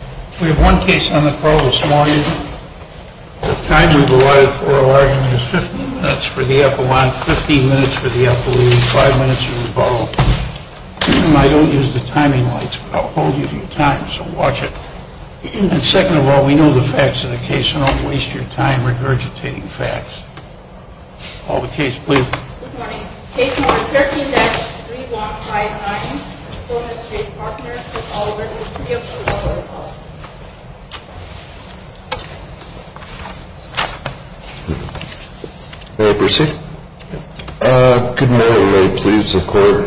We have one case on the call this morning. The time we've allotted for a large one is 15 minutes for the epilogue, 15 minutes for the epilogue, and 5 minutes for the follow-up. I don't use the timing lights, but I'll hold you to your time, so watch it. And second of all, we know the facts of the case, so don't waste your time regurgitating facts. Call the case, please. Good morning. Case number 13-3159, Stone Street Partners, LLC v. City of Chicago. Mary Percy? Good morning. We're very pleased to support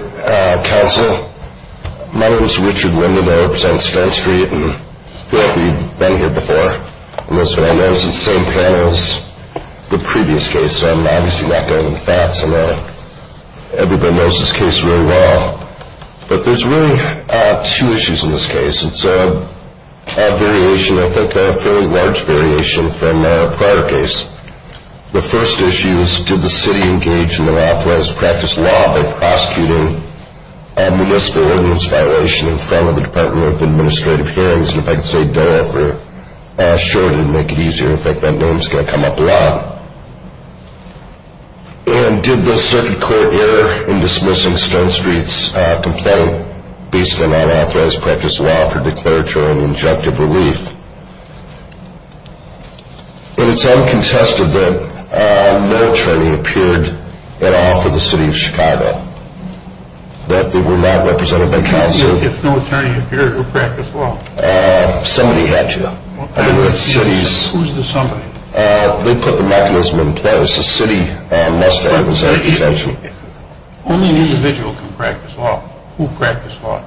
counsel. My name is Richard Linden, and I represent Stone Street. I feel like we've been here before. I notice it's the same panel as the previous case, so I'm obviously not going into the facts. I know everybody knows this case really well, but there's really two issues in this case. It's a variation, I think a fairly large variation, from a prior case. The first issue is, did the city engage in unauthorized practice law by prosecuting a municipal ordinance violation in front of the Department of Administrative Hearings? And if I could say DOE for short, it would make it easier. In fact, that name is going to come up a lot. And did the circuit court error in dismissing Stone Street's complaint based on unauthorized practice law for declaratory and injunctive relief? It's uncontested that no attorney appeared at all for the City of Chicago. That they were not represented by counsel. If no attorney appeared, who practiced law? Somebody had to. Who's the somebody? They put the mechanism in place. The city must have the same potential. Only an individual can practice law. Who practiced law?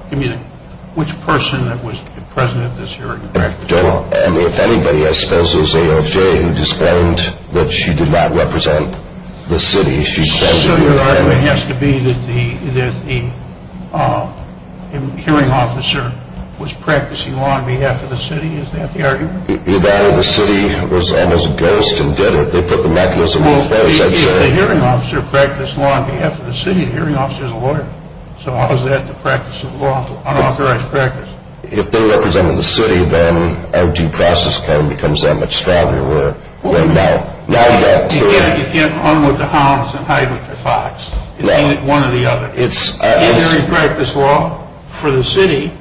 Which person that was present at this hearing practiced law? If anybody, I suppose it was A.L.J. who explained that she did not represent the city. So the argument has to be that the hearing officer was practicing law on behalf of the city? Is that the argument? The city was almost a ghost and did it. They put the mechanism in place, I'd say. If the hearing officer practiced law on behalf of the city, the hearing officer is a lawyer. So how is that the practice of law, unauthorized practice? If they represented the city, then our due process claim becomes that much stronger than now. You can't unload the hounds and hide with the fox. It's only one or the other. The hearing practiced law for the city,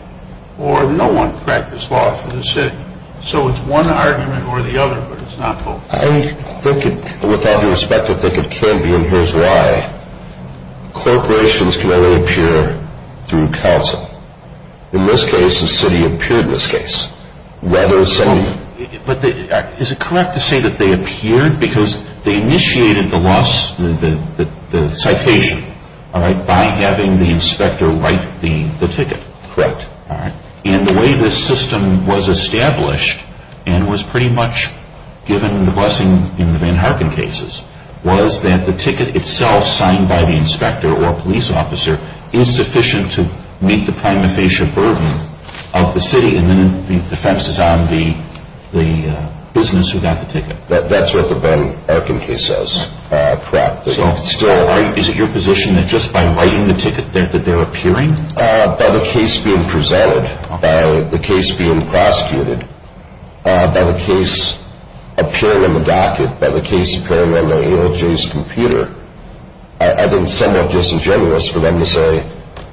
or no one practiced law for the city. So it's one argument or the other, but it's not both. I think, with all due respect, I think it can be, and here's why. Corporations can only appear through counsel. In this case, the city appeared in this case. But is it correct to say that they appeared? Because they initiated the citation by having the inspector write the ticket. Correct. And the way this system was established and was pretty much given the blessing in the Ben Harkin cases was that the ticket itself signed by the inspector or police officer is sufficient to meet the prima facie burden of the city, and then the defense is on the business who got the ticket. That's what the Ben Harkin case says. Correct. So is it your position that just by writing the ticket that they're appearing? By the case being presented, by the case being prosecuted, by the case appearing on the docket, by the case appearing on the ALJ's computer, I think it's somewhat disingenuous for them to say,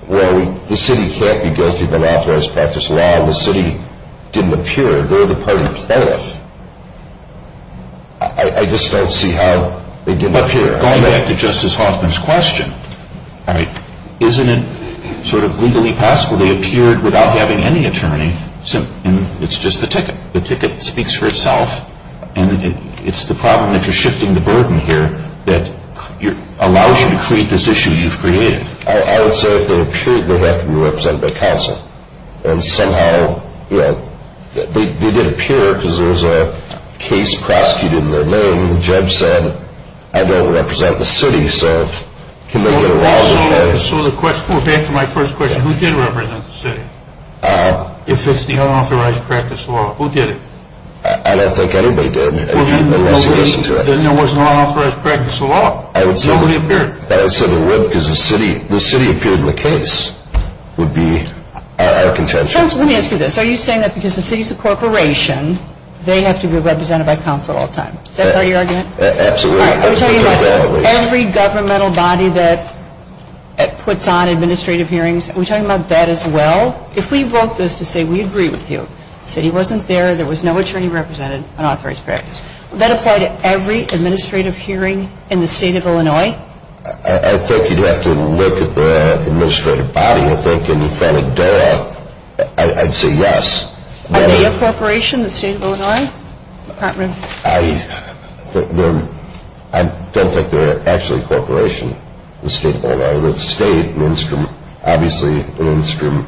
well, the city can't be guilty of unauthorized practice of law and the city didn't appear. They're the party plaintiff. I just don't see how they didn't appear. Going back to Justice Hoffman's question, isn't it sort of legally possible they appeared without having any attorney? It's just the ticket. The ticket speaks for itself, and it's the problem that you're shifting the burden here that allows you to create this issue you've created. I would say if they appeared, they have to be represented by counsel, and somehow they did appear because there was a case prosecuted in their name. And the judge said, I don't represent the city, so can they get away with it? So to answer my first question, who did represent the city? If it's the unauthorized practice of law, who did it? I don't think anybody did unless you listen to it. Then there was no unauthorized practice of law. Nobody appeared. I would say they would because the city appeared in the case would be our contention. Counsel, let me ask you this. Are you saying that because the city's a corporation, they have to be represented by counsel all the time? Is that part of your argument? Absolutely. I'm talking about every governmental body that puts on administrative hearings. Are we talking about that as well? If we broke this to say we agree with you, the city wasn't there, there was no attorney represented, unauthorized practice, would that apply to every administrative hearing in the state of Illinois? I think you'd have to look at the administrative body. I think in front of DOA I'd say yes. Are they a corporation in the state of Illinois? I don't think they're actually a corporation in the state of Illinois. The state, obviously, an instrument.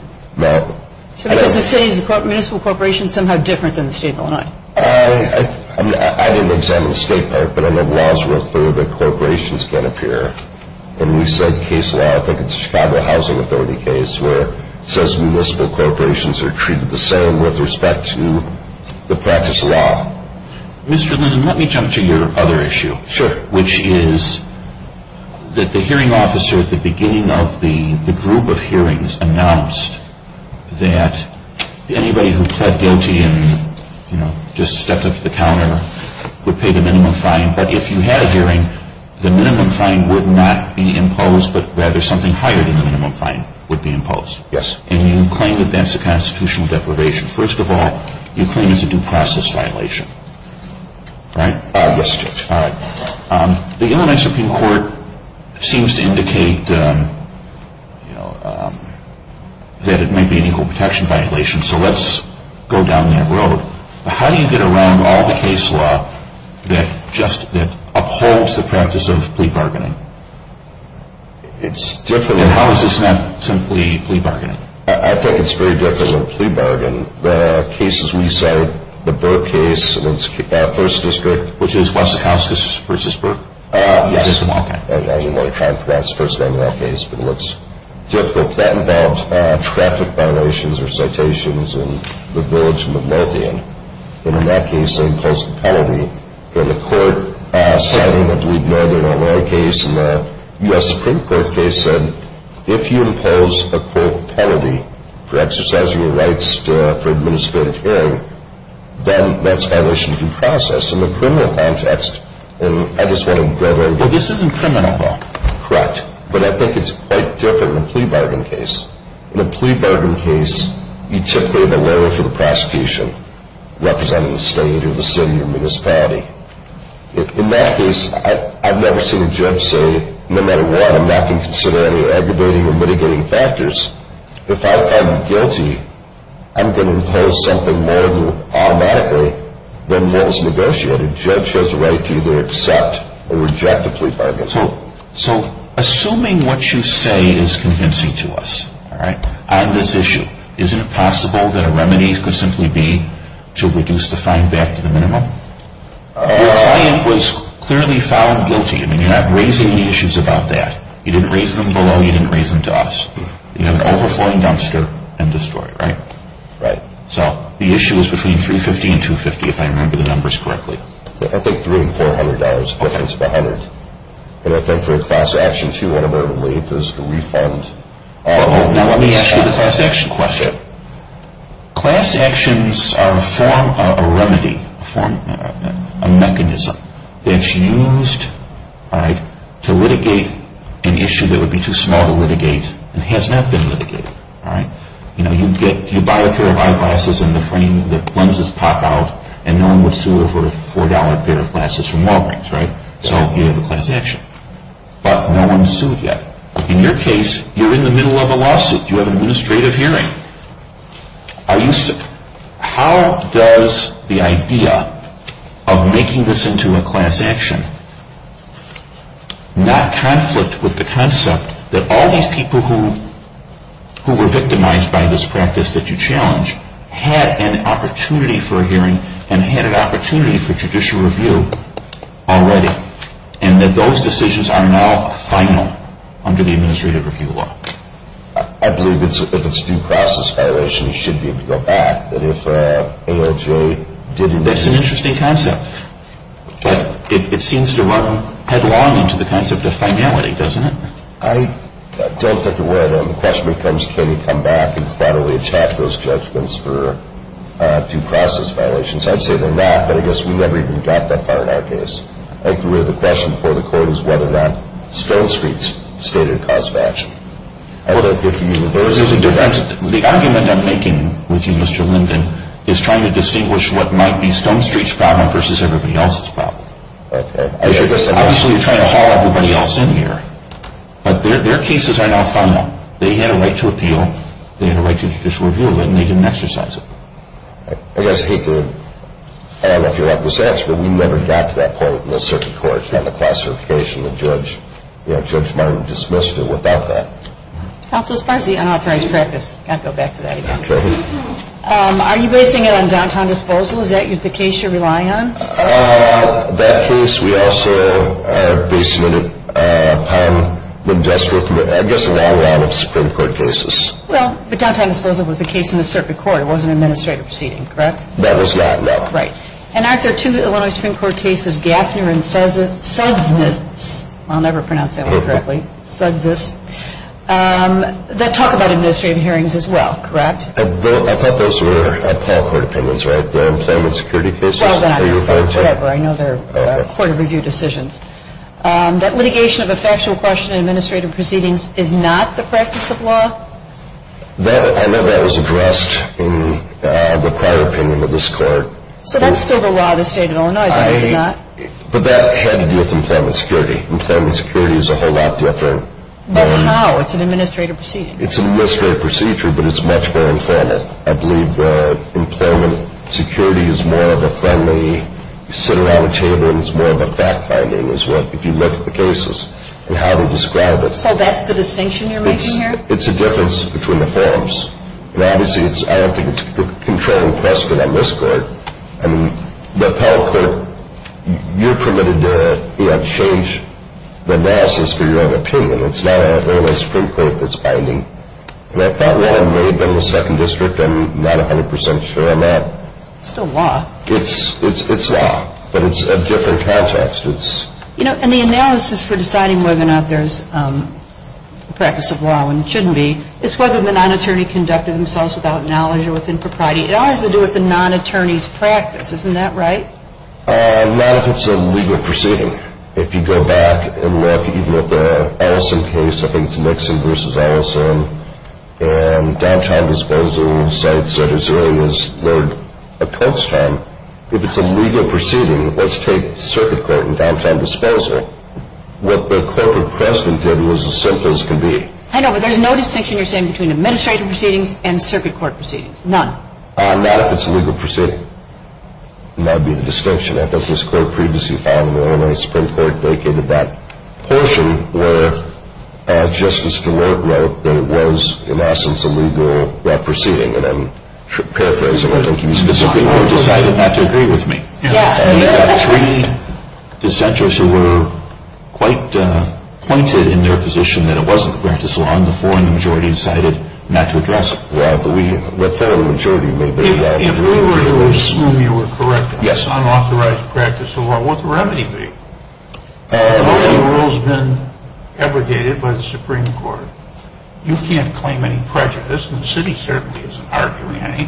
So because the city is a municipal corporation, somehow different than the state of Illinois? I didn't examine the state part, but the laws were clear that corporations can't appear. And we said case law, I think it's the Chicago Housing Authority case, where it says municipal corporations are treated the same with respect to the practice of law. Mr. Linden, let me jump to your other issue. Sure. Which is that the hearing officer at the beginning of the group of hearings announced that anybody who pled guilty and just stepped up to the counter would pay the minimum fine. But if you had a hearing, the minimum fine would not be imposed, but rather something higher than the minimum fine would be imposed. Yes. And you claim that that's a constitutional deprivation. First of all, you claim it's a due process violation, right? Yes, Judge. All right. The Illinois Supreme Court seems to indicate that it may be an equal protection violation, so let's go down that road. How do you get around all the case law that upholds the practice of plea bargaining? It's different. And how is this not simply plea bargaining? I think it's very different than plea bargaining. The cases we cite, the Burke case in its first district. Which is Wessakowskis v. Burke? Yes. I didn't want to try and pronounce the first name of that case, but it looks difficult. That involved traffic violations or citations in the village in the north end. And in that case, they imposed a penalty. And the court citing the Bleed Northern, Illinois case and the U.S. Supreme Court case said, if you impose a court penalty for exercising your rights for administrative hearing, then that's a violation of due process. In the criminal context, and I just want to go there. Well, this isn't criminal law. Correct. But I think it's quite different in a plea bargaining case. In a plea bargaining case, you typically have a lawyer for the prosecution, representing the state or the city or municipality. In that case, I've never seen a judge say, no matter what, I'm not going to consider any aggravating or mitigating factors. If I am guilty, I'm going to impose something more automatically than what was negotiated. A judge has a right to either accept or reject a plea bargaining. So assuming what you say is convincing to us on this issue, isn't it possible that a remedy could simply be to reduce the fine back to the minimum? Your client was clearly found guilty. I mean, you're not raising any issues about that. You didn't raise them below. You didn't raise them to us. You have an overflowing dumpster end of story, right? Right. So the issue is between $350 and $250, if I remember the numbers correctly. I think $300 and $400, perpendicular to $100. And I think for a class action too, one of our relief is the refund. Now let me ask you the class action question. Class actions are a form of a remedy, a mechanism, that's used to litigate an issue that would be too small to litigate and has not been litigated. You buy a pair of eyeglasses and the lenses pop out and no one would sue over a $4 pair of glasses from Walgreens, right? So you have a class action. But no one's sued yet. In your case, you're in the middle of a lawsuit. You have an administrative hearing. How does the idea of making this into a class action not conflict with the concept that all these people who were victimized by this practice that you challenge had an opportunity for a hearing and had an opportunity for judicial review already and that those decisions are now final under the administrative review law? I believe if it's due process violation, you should be able to go back. That's an interesting concept. But it seems to run headlong into the concept of finality, doesn't it? I don't think it would. The question becomes can you come back and federally attack those judgments for due process violations. I'd say they're not, but I guess we never even got that far in our case. I think the question before the court is whether or not Stone Street's stated a cause of action. The argument I'm making with you, Mr. Linden, is trying to distinguish what might be Stone Street's problem versus everybody else's problem. Obviously, you're trying to haul everybody else in here, but their cases are now final. They had a right to appeal. They had a right to judicial review of it, and they didn't exercise it. I guess, I don't know if you'll like this answer, but we never got to that point in the circuit court on the classification. The judge might have dismissed it without that. Counsel, as far as the unauthorized practice, I've got to go back to that again. Okay. Are you basing it on downtown disposal? Is that the case you're relying on? That case, we also are basing it upon the district, I guess a long line of Supreme Court cases. Well, but downtown disposal was a case in the circuit court. It was an administrative proceeding, correct? That was not, no. Right. And aren't there two Illinois Supreme Court cases, Gaffner and Suggs, I'll never pronounce that one correctly, Suggs, that talk about administrative hearings as well, correct? I thought those were appellate court opinions, right? The employment security cases? Well, then I misspoke. Whatever. I know they're court of review decisions. That litigation of a factual question in administrative proceedings is not the practice of law? I know that was addressed in the prior opinion of this court. So that's still the law of the state of Illinois, is it not? But that had to do with employment security. Employment security is a whole lot different. But how? It's an administrative proceeding. It's an administrative procedure, but it's much more informal. I believe that employment security is more of a friendly, you sit around a table and it's more of a fact-finding as well, if you look at the cases and how they describe it. So that's the distinction you're making here? It's a difference between the forms. Obviously, I don't think it's a controlling precedent on this court. I mean, the appellate court, you're permitted to change the analysis for your own opinion. It's not an Illinois Supreme Court that's binding. And I thought law may have been in the second district. I'm not 100% sure I'm not. It's still law. It's law, but it's a different context. You know, in the analysis for deciding whether or not there's a practice of law and it shouldn't be, it's whether the non-attorney conducted themselves without knowledge or within propriety. It all has to do with the non-attorney's practice. Isn't that right? Not if it's a legal proceeding. If you go back and look even at the Ellison case, I think it's Nixon v. Ellison, and downtime disposal sites that as early as a clerk's term, if it's a legal proceeding, let's take circuit court and downtime disposal. What the corporate precedent did was as simple as can be. I know, but there's no distinction you're saying between administrative proceedings and circuit court proceedings. None. Not if it's a legal proceeding. And that would be the distinction. I thought it was clear previously found in the Illinois Supreme Court vacated that portion where Justice Stewart wrote that it was, in essence, a legal proceeding. And I'm paraphrasing. I think he specifically decided not to agree with me. We have three dissenters who were quite pointed in their position that it wasn't a practice of law, and the majority decided not to address it. The thorough majority would agree. If we were to assume you were correct on unauthorized practice of law, what would the remedy be? The voting rules have been abrogated by the Supreme Court. You can't claim any prejudice, and the city certainly isn't arguing any.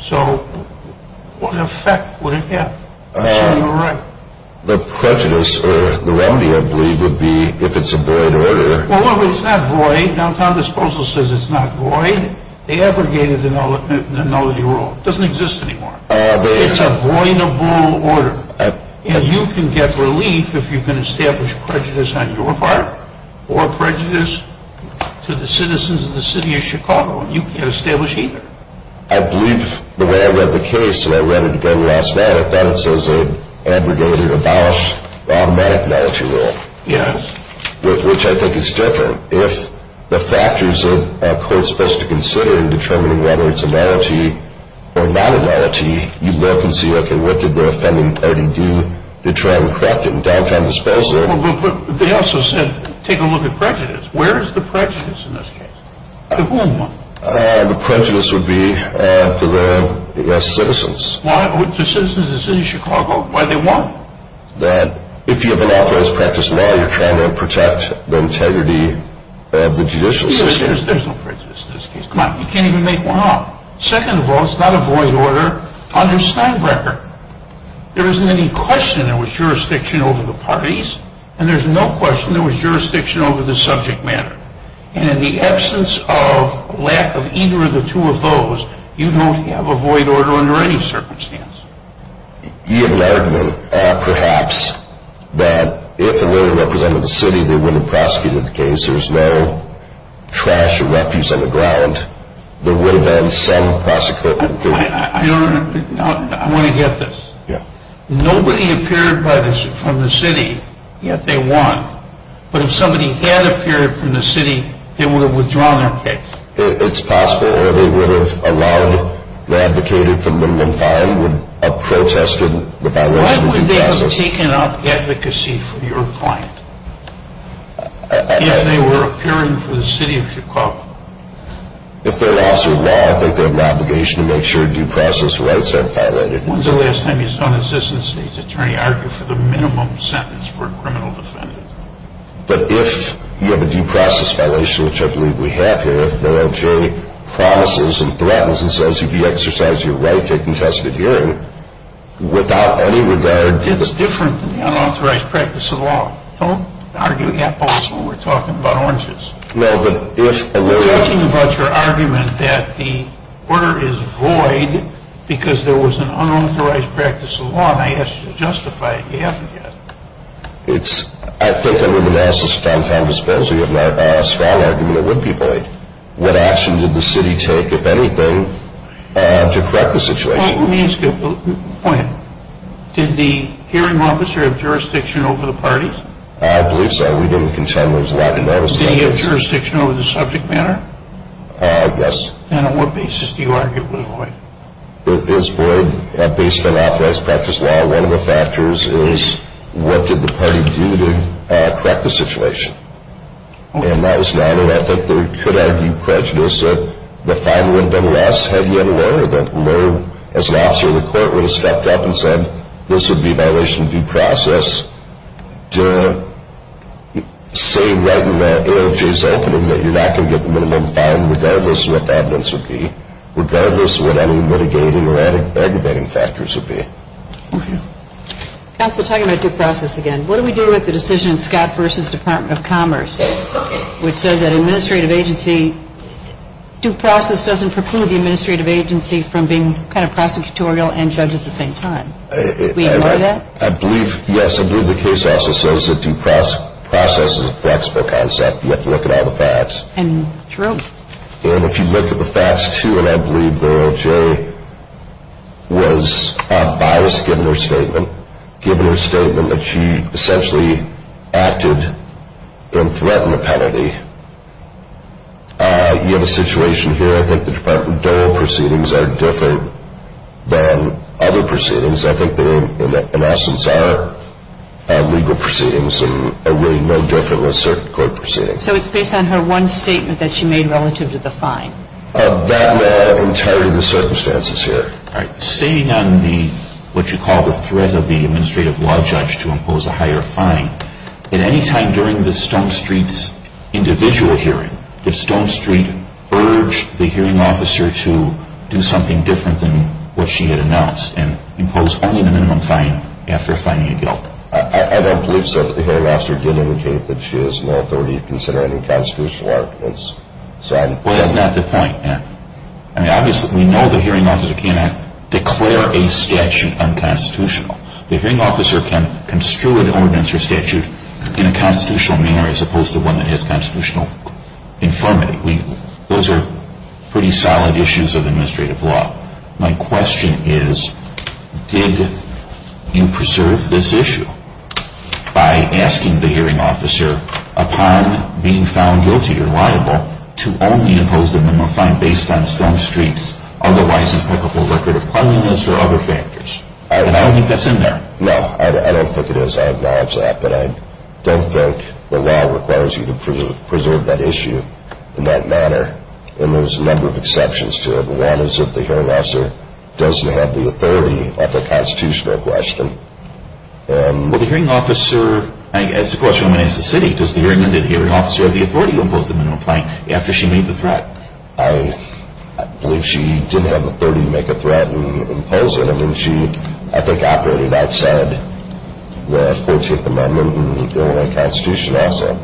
So what effect would it have? The prejudice or the remedy, I believe, would be if it's a void order. Well, it's not void. Downtime disposal says it's not void. They abrogated the nullity rule. It doesn't exist anymore. It's a voidable order. And you can get relief if you can establish prejudice on your part or prejudice to the citizens of the city of Chicago. And you can't establish either. I believe the way I read the case, and I read it again last night, that it says they abrogated or abolished the automatic nullity rule. Yes. Which I think is different. If the factors that a court's supposed to consider in determining whether it's a nullity or not a nullity, you look and see, okay, what did the offending party do to try and correct it in downtime disposal? But they also said, take a look at prejudice. Where is the prejudice in this case? To whom? The prejudice would be to the citizens. Why? The citizens of the city of Chicago? Why do they want it? That if you have an atheist practice law, you're trying to protect the integrity of the judicial system. There's no prejudice in this case. Come on, you can't even make one up. Second of all, it's not a void order under Steinbrecher. There isn't any question there was jurisdiction over the parties, and there's no question there was jurisdiction over the subject matter. And in the absence of lack of either of the two of those, you don't have a void order under any circumstance. He alerted them, perhaps, that if a lawyer represented the city, they wouldn't have prosecuted the case. There was no trash or refuse on the ground. There would have been some prosecutorial duty. I want to get this. Yeah. Nobody appeared from the city, yet they won. But if somebody had appeared from the city, they would have withdrawn their case. It's possible, or they would have allowed, they advocated for minimum fine, would have protested the violation of due process. Why would they have taken out the advocacy for your client, if they were appearing for the city of Chicago? If they're an officer of law, I think they have an obligation to make sure due process rights are violated. When's the last time you saw an assistant state's attorney argue for the minimum sentence for a criminal defendant? But if you have a due process violation, which I believe we have here, if Mayor Jay promises and threatens and says you can exercise your right to a contested hearing, without any regard to the... It's different than the unauthorized practice of law. Don't argue apples when we're talking about oranges. No, but if a lawyer... We're talking about your argument that the order is void because there was an unauthorized practice of law, and I asked you to justify it, you haven't yet. I think under the analysis of downtown disposal, you have a strong argument it would be void. What action did the city take, if anything, to correct the situation? Let me ask you a point. Did the hearing officer have jurisdiction over the parties? I believe so. We didn't contend there was a lack of notice. Did he have jurisdiction over the subject matter? Yes. And on what basis do you argue it was void? Is void based on unauthorized practice of law? Well, one of the factors is what did the party do to correct the situation? And that was not an ethic. They could argue prejudice that the fine would have been less had he had a lawyer, that the lawyer, as an officer of the court, would have stepped up and said, this would be a violation of due process, to say right in the AOJ's opening that you're not going to get the minimum fine, regardless of what the evidence would be, regardless of what any mitigating or aggravating factors would be. Okay. Counsel, talking about due process again, what do we do with the decision in Scott v. Department of Commerce, which says that administrative agency, due process doesn't preclude the administrative agency from being kind of prosecutorial and judge at the same time. Do we agree with that? I believe, yes, I believe the case also says that due process is a flexible concept. You have to look at all the facts. And true. And if you look at the facts, too, I believe the AOJ was biased given her statement, given her statement that she essentially acted in threat and a penalty. You have a situation here, I think the Department of Doral proceedings are different than other proceedings. I think they, in essence, are legal proceedings and really no different than circuit court proceedings. So it's based on her one statement that she made relative to the fine. I'm not entirely in the circumstances here. All right. Stating on the, what you call, the threat of the administrative law judge to impose a higher fine, at any time during the Stone Street's individual hearing, did Stone Street urge the hearing officer to do something different than what she had announced and impose only the minimum fine after fining a guilt? I don't believe so, but the hearing officer did indicate that she has no authority to consider any constitutional arguments. Well, that's not the point, Matt. I mean, obviously, we know the hearing officer cannot declare a statute unconstitutional. The hearing officer can construe an ordinance or statute in a constitutional manner as opposed to one that has constitutional infirmity. Those are pretty solid issues of administrative law. My question is, did you preserve this issue by asking the hearing officer, upon being found guilty or liable, to only impose the minimum fine based on Stone Street's otherwise impeccable record of cleanliness or other factors? And I don't think that's in there. No, I don't think it is. I acknowledge that, but I don't think the law requires you to preserve that issue in that manner. And there's a number of exceptions to it. One is if the hearing officer doesn't have the authority at the constitutional question. Well, the hearing officer, I guess the question I'm going to ask the city, does the hearing officer have the authority to impose the minimum fine after she made the threat? I believe she didn't have the authority to make a threat and impose it. I mean, she, I think, operated outside the 14th Amendment and the Illinois Constitution also.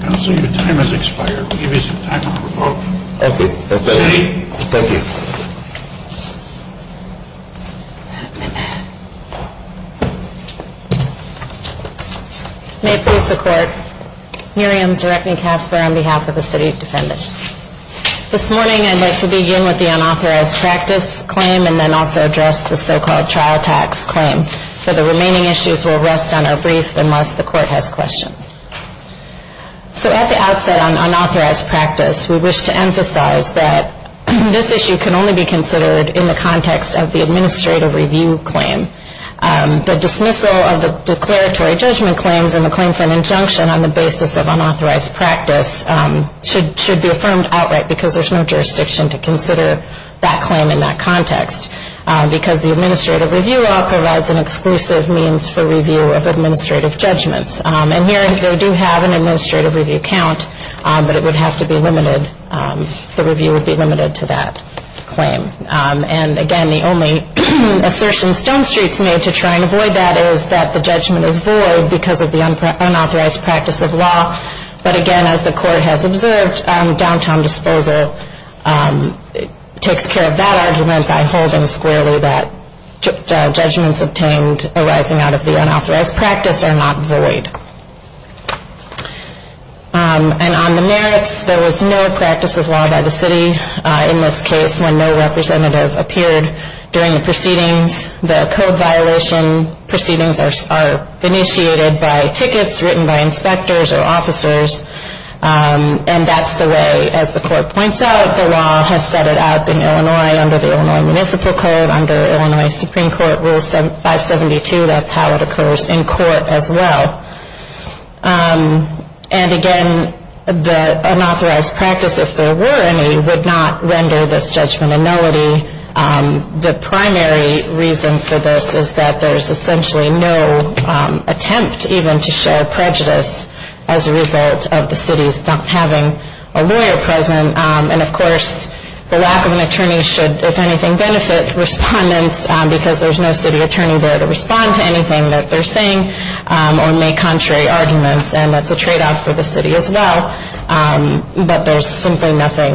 Counselor, your time has expired. We'll give you some time to report. Okay. Thank you. May it please the Court, Miriam Zerechny-Casper on behalf of the City of Defendants. This morning I'd like to begin with the unauthorized practice claim and then also address the so-called trial tax claim. For the remaining issues, we'll rest on our brief unless the Court has questions. So at the outset on unauthorized practice, we wish to emphasize that this issue can only be considered in the context of the administrative review claim. The dismissal of the declaratory judgment claims and the claim for an injunction on the basis of unauthorized practice should be affirmed outright because there's no jurisdiction to consider that claim in that context because the administrative review law provides an exclusive means for review of administrative judgments. And here they do have an administrative review count, but it would have to be limited, the review would be limited to that claim. And again, the only assertion Stone Street's made to try and avoid that is that the judgment is void because of the unauthorized practice of law. But again, as the Court has observed, downtown disposal takes care of that argument by holding squarely that judgments obtained arising out of the unauthorized practice are not void. And on the merits, there was no practice of law by the City in this case when no representative appeared during the proceedings. The code violation proceedings are initiated by tickets written by inspectors or officers. And that's the way, as the Court points out, the law has set it up in Illinois under the Illinois Municipal Code, under Illinois Supreme Court Rule 572, that's how it occurs in court as well. And again, the unauthorized practice, if there were any, would not render this judgment a nullity. The primary reason for this is that there's essentially no attempt even to show prejudice as a result of the City's not having a lawyer present. And of course, the lack of an attorney should, if anything, benefit respondents because there's no City attorney there to respond to anything that they're saying or make contrary arguments, and that's a tradeoff for the City as well. But there's simply nothing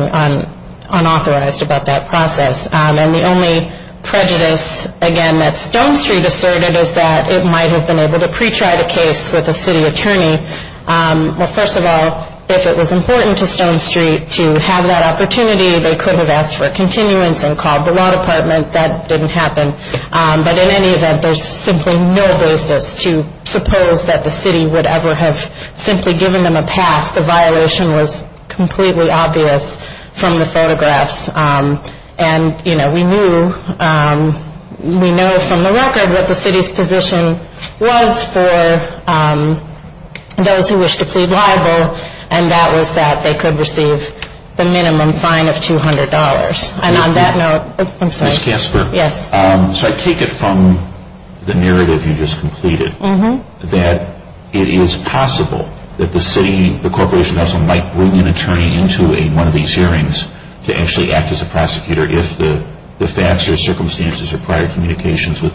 unauthorized about that process. And the only prejudice, again, that Stone Street asserted is that it might have been able to pre-try the case with a City attorney. Well, first of all, if it was important to Stone Street to have that opportunity, they could have asked for a continuance and called the law department. That didn't happen. But in any event, there's simply no basis to suppose that the City would ever have simply given them a pass. The violation was completely obvious from the photographs. And, you know, we knew from the record what the City's position was for those who wished to plead liable, and that was that they could receive the minimum fine of $200. And on that note, I'm sorry. Ms. Casper? Yes. So I take it from the narrative you just completed that it is possible that the City, the Corporation Council might bring an attorney into one of these hearings to actually act as a prosecutor if the facts or circumstances or prior communications with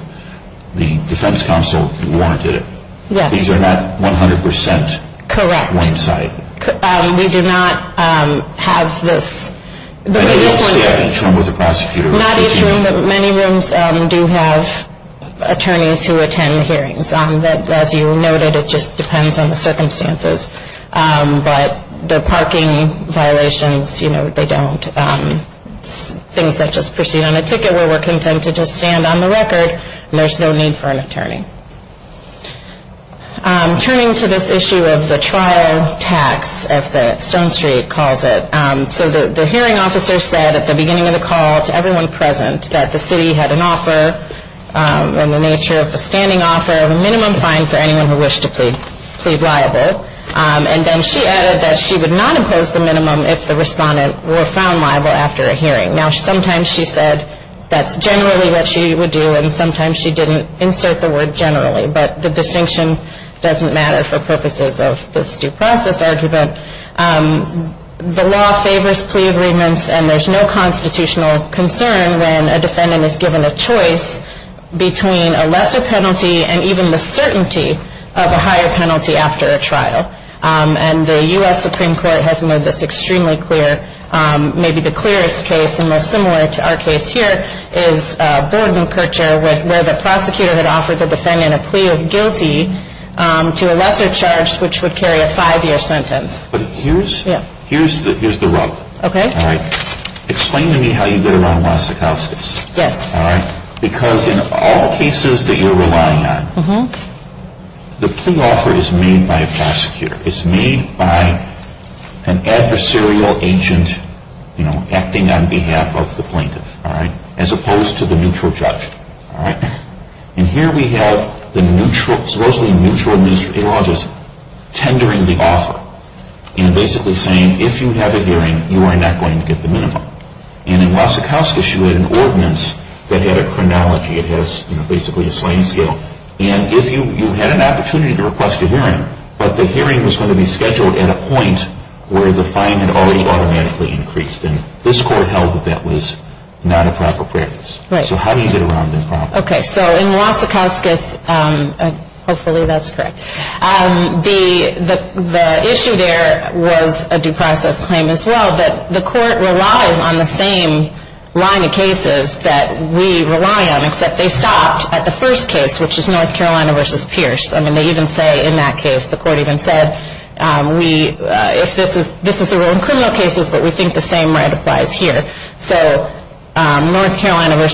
the Defense Council warranted it. Yes. These are not 100% one-sided. Correct. We do not have this. Not each room, but many rooms do have attorneys who attend hearings. As you noted, it just depends on the circumstances. But the parking violations, you know, they don't. Things that just proceed on a ticket where we're content to just stand on the record, there's no need for an attorney. Turning to this issue of the trial tax, as Stone Street calls it, so the hearing officer said at the beginning of the call to everyone present that the City had an offer and the nature of the standing offer of a minimum fine for anyone who wished to plead liable. And then she added that she would not impose the minimum if the respondent were found liable after a hearing. Now, sometimes she said that's generally what she would do, and sometimes she didn't insert the word generally. But the distinction doesn't matter for purposes of this due process argument. The law favors plea agreements, and there's no constitutional concern when a defendant is given a choice between a lesser penalty and even the certainty of a higher penalty after a trial. And the U.S. Supreme Court has made this extremely clear. Maybe the clearest case and most similar to our case here is Bordenkercher where the prosecutor had offered the defendant a plea of guilty to a lesser charge, which would carry a five-year sentence. But here's the rub. Okay. All right. Explain to me how you get around Los Acostas. Yes. All right. Because in all cases that you're relying on, the plea offer is made by a prosecutor. It's made by an adversarial agent, you know, acting on behalf of the plaintiff. All right. As opposed to the neutral judge. All right. And here we have the neutral, supposedly neutral, the law just tendering the offer and basically saying if you have a hearing, you are not going to get the minimum. And in Los Acostas, you had an ordinance that had a chronology. And if you had an opportunity to request a hearing, but the hearing was going to be scheduled at a point where the fine had already automatically increased. And this court held that that was not a proper practice. Right. So how do you get around that problem? Okay. So in Los Acostas, hopefully that's correct, the issue there was a due process claim as well. But the court relies on the same line of cases that we rely on, except they stopped at the first case, which is North Carolina v. Pierce. I mean, they even say in that case, the court even said, this is a rule in criminal cases, but we think the same right applies here. So North Carolina v.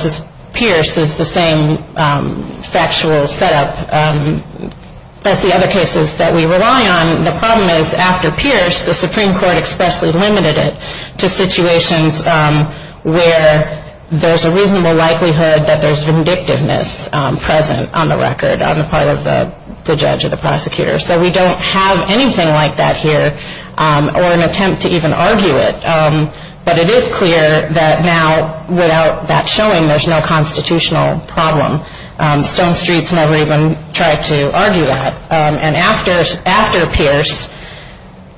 Pierce is the same factual setup as the other cases that we rely on. The problem is after Pierce, the Supreme Court expressly limited it to situations where there's a reasonable likelihood that there's vindictiveness present on the record, on the part of the judge or the prosecutor. So we don't have anything like that here, or an attempt to even argue it. But it is clear that now, without that showing, there's no constitutional problem. Stone Street's never even tried to argue that. And after Pierce,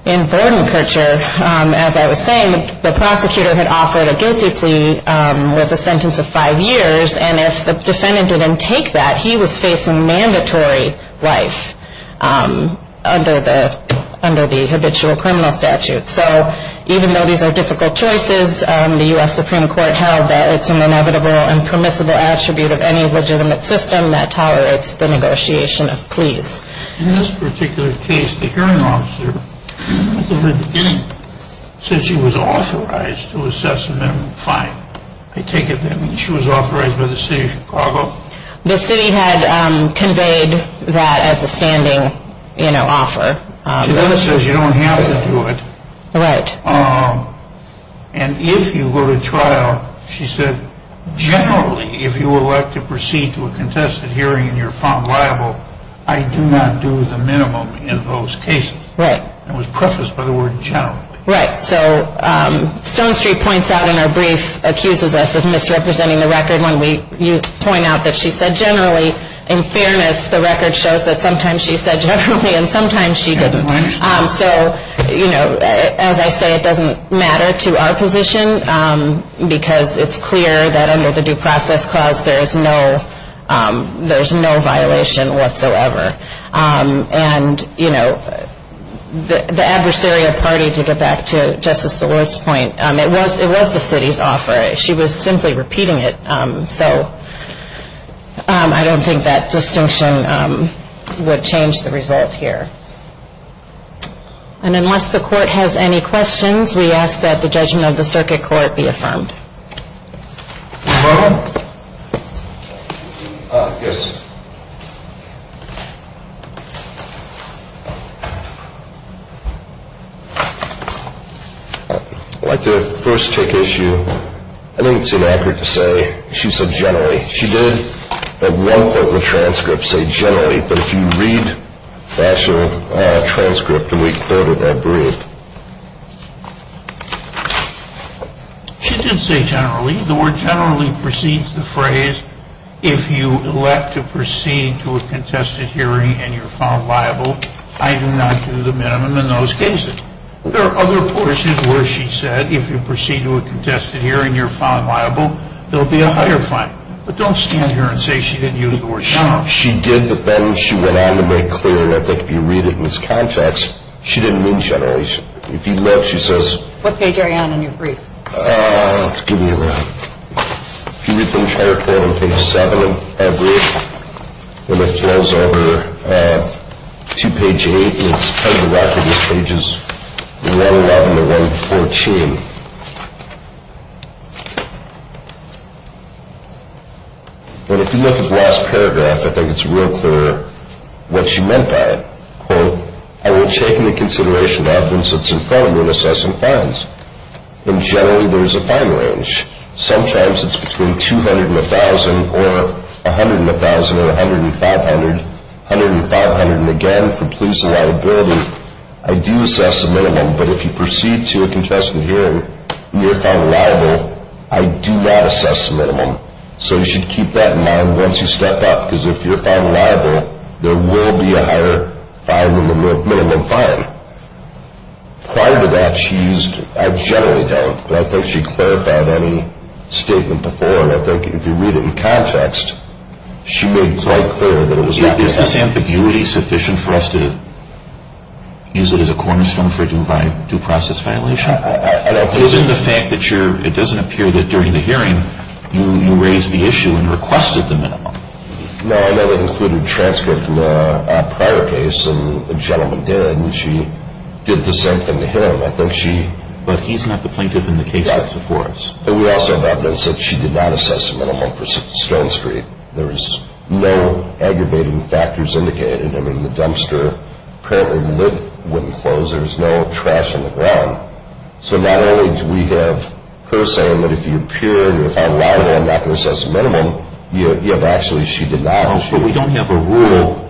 in Brodenkircher, as I was saying, the prosecutor had offered a guilty plea with a sentence of five years. And if the defendant didn't take that, he was facing mandatory life under the habitual criminal statute. So even though these are difficult choices, the U.S. Supreme Court held that it's an inevitable and permissible attribute of any legitimate system that tolerates the negotiation of pleas. In this particular case, the hearing officer, at the very beginning, said she was authorized to assess a minimum fine. I take it that means she was authorized by the city of Chicago? The city had conveyed that as a standing offer. She then says you don't have to do it. Right. And if you go to trial, she said, generally, if you elect to proceed to a contested hearing and you're found liable, I do not do the minimum in those cases. Right. It was prefaced by the word generally. Right. So Stone Street points out in her brief, accuses us of misrepresenting the record when we point out that she said generally. In fairness, the record shows that sometimes she said generally and sometimes she didn't. So, you know, as I say, it doesn't matter to our position because it's clear that under the due process clause there is no violation whatsoever. And, you know, the adversarial party, to get back to Justice DeWard's point, it was the city's offer. She was simply repeating it. So I don't think that distinction would change the result here. And unless the court has any questions, we ask that the judgment of the circuit court be affirmed. Your Honor? Yes. I'd like to first take issue. I don't think it's inaccurate to say she said generally. She did at one point in the transcript say generally, but if you read the actual transcript of Week 3 of that brief, she did say generally. The word generally precedes the phrase if you elect to proceed to a contested hearing and you're found liable, I do not do the minimum in those cases. There are other portions where she said if you proceed to a contested hearing and you're found liable, there will be a higher fine. But don't stand here and say she didn't use the word generally. She did, but then she went on to make clear, and I think if you read it in this context, she didn't mean generally. If you look, she says. What page are you on in your brief? Give me a minute. If you read the entire court on page 7 of that brief, and it flows over to page 8, and it's kind of a rocket. This page is 111 to 114. And if you look at the last paragraph, I think it's real clear what she meant by it. Quote, I will take into consideration the evidence that's in front of me in assessing fines. And generally, there's a fine range. Sometimes it's between $200,000 and $1,000, or $100,000 and $1,000, or $100,000 and $500,000, $100,000 and $500,000, and again, for police and liability, I do assess the minimum. But if you proceed to a contested hearing and you're found liable, I do not assess the minimum. So you should keep that in mind once you step up, because if you're found liable, there will be a higher minimum fine. Prior to that, she used, I generally don't, but I think she clarified any statement before, and I think if you read it in context, she made it quite clear that it was not going to happen. Is this ambiguity sufficient for us to use it as a cornerstone for due process violation? I don't think so. But isn't the fact that you're – it doesn't appear that during the hearing, you raised the issue and requested the minimum. No, I know that included transcript from a prior case, and the gentleman did, and she did the same thing to him. I think she – But he's not the plaintiff in the case that's before us. Right. And we also have evidence that she did not assess the minimum for Stone Street. There was no aggravating factors indicated. I mean, the dumpster, apparently the lid wouldn't close. There was no trash on the ground. So not only do we have her saying that if you're pure, if I allow it, I'm not going to assess the minimum, but actually she did not. But we don't have a rule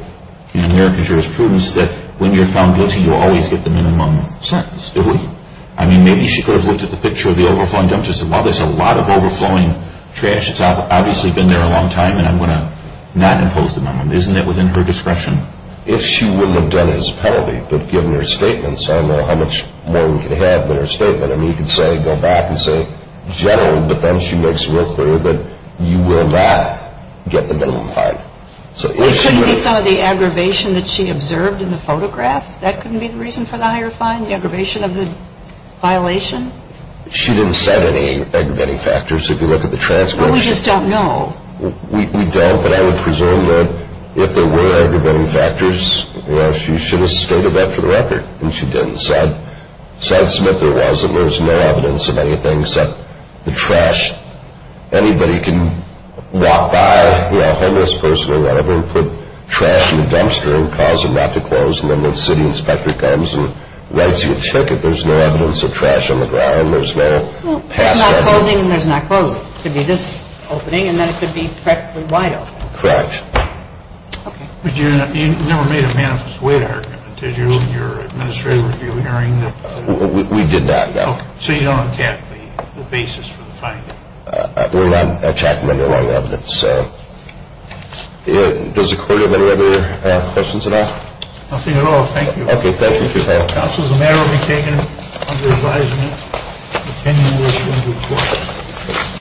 in American jurisprudence that when you're found guilty, you'll always get the minimum sentence, do we? I mean, maybe she could have looked at the picture of the overflowing dumpster and said, well, there's a lot of overflowing trash that's obviously been there a long time, and I'm going to not impose the minimum. Isn't that within her discretion? If she wouldn't have done it as a penalty, but given her statements, I don't know how much more we could have in her statement. I mean, you could say, go back and say, generally, but then she makes it real clear that you will not get the minimum fine. So if she would have. It couldn't be some of the aggravation that she observed in the photograph? That couldn't be the reason for the higher fine, the aggravation of the violation? She didn't set any aggravating factors. If you look at the transcripts. But we just don't know. We don't, but I would presume that if there were aggravating factors, she should have stated that for the record. And she didn't. Said Smith there was, and there's no evidence of anything except the trash. Anybody can walk by, a homeless person or whatever, and put trash in a dumpster and cause it not to close, and then the city inspector comes and writes you a ticket. There's no evidence of trash on the ground. There's no past evidence. There's not closing, and there's not closing. It could be this opening, and then it could be practically wide open. Correct. But you never made a manifest wait argument. Did you in your administrative review hearing? We did not, no. So you don't attack the basis for the finding? We're not attacking underlying evidence. Does the court have any other questions at all? Nothing at all. Thank you. Okay. Thank you. This is a matter to be taken under advisement, and the opinion will be given to the court.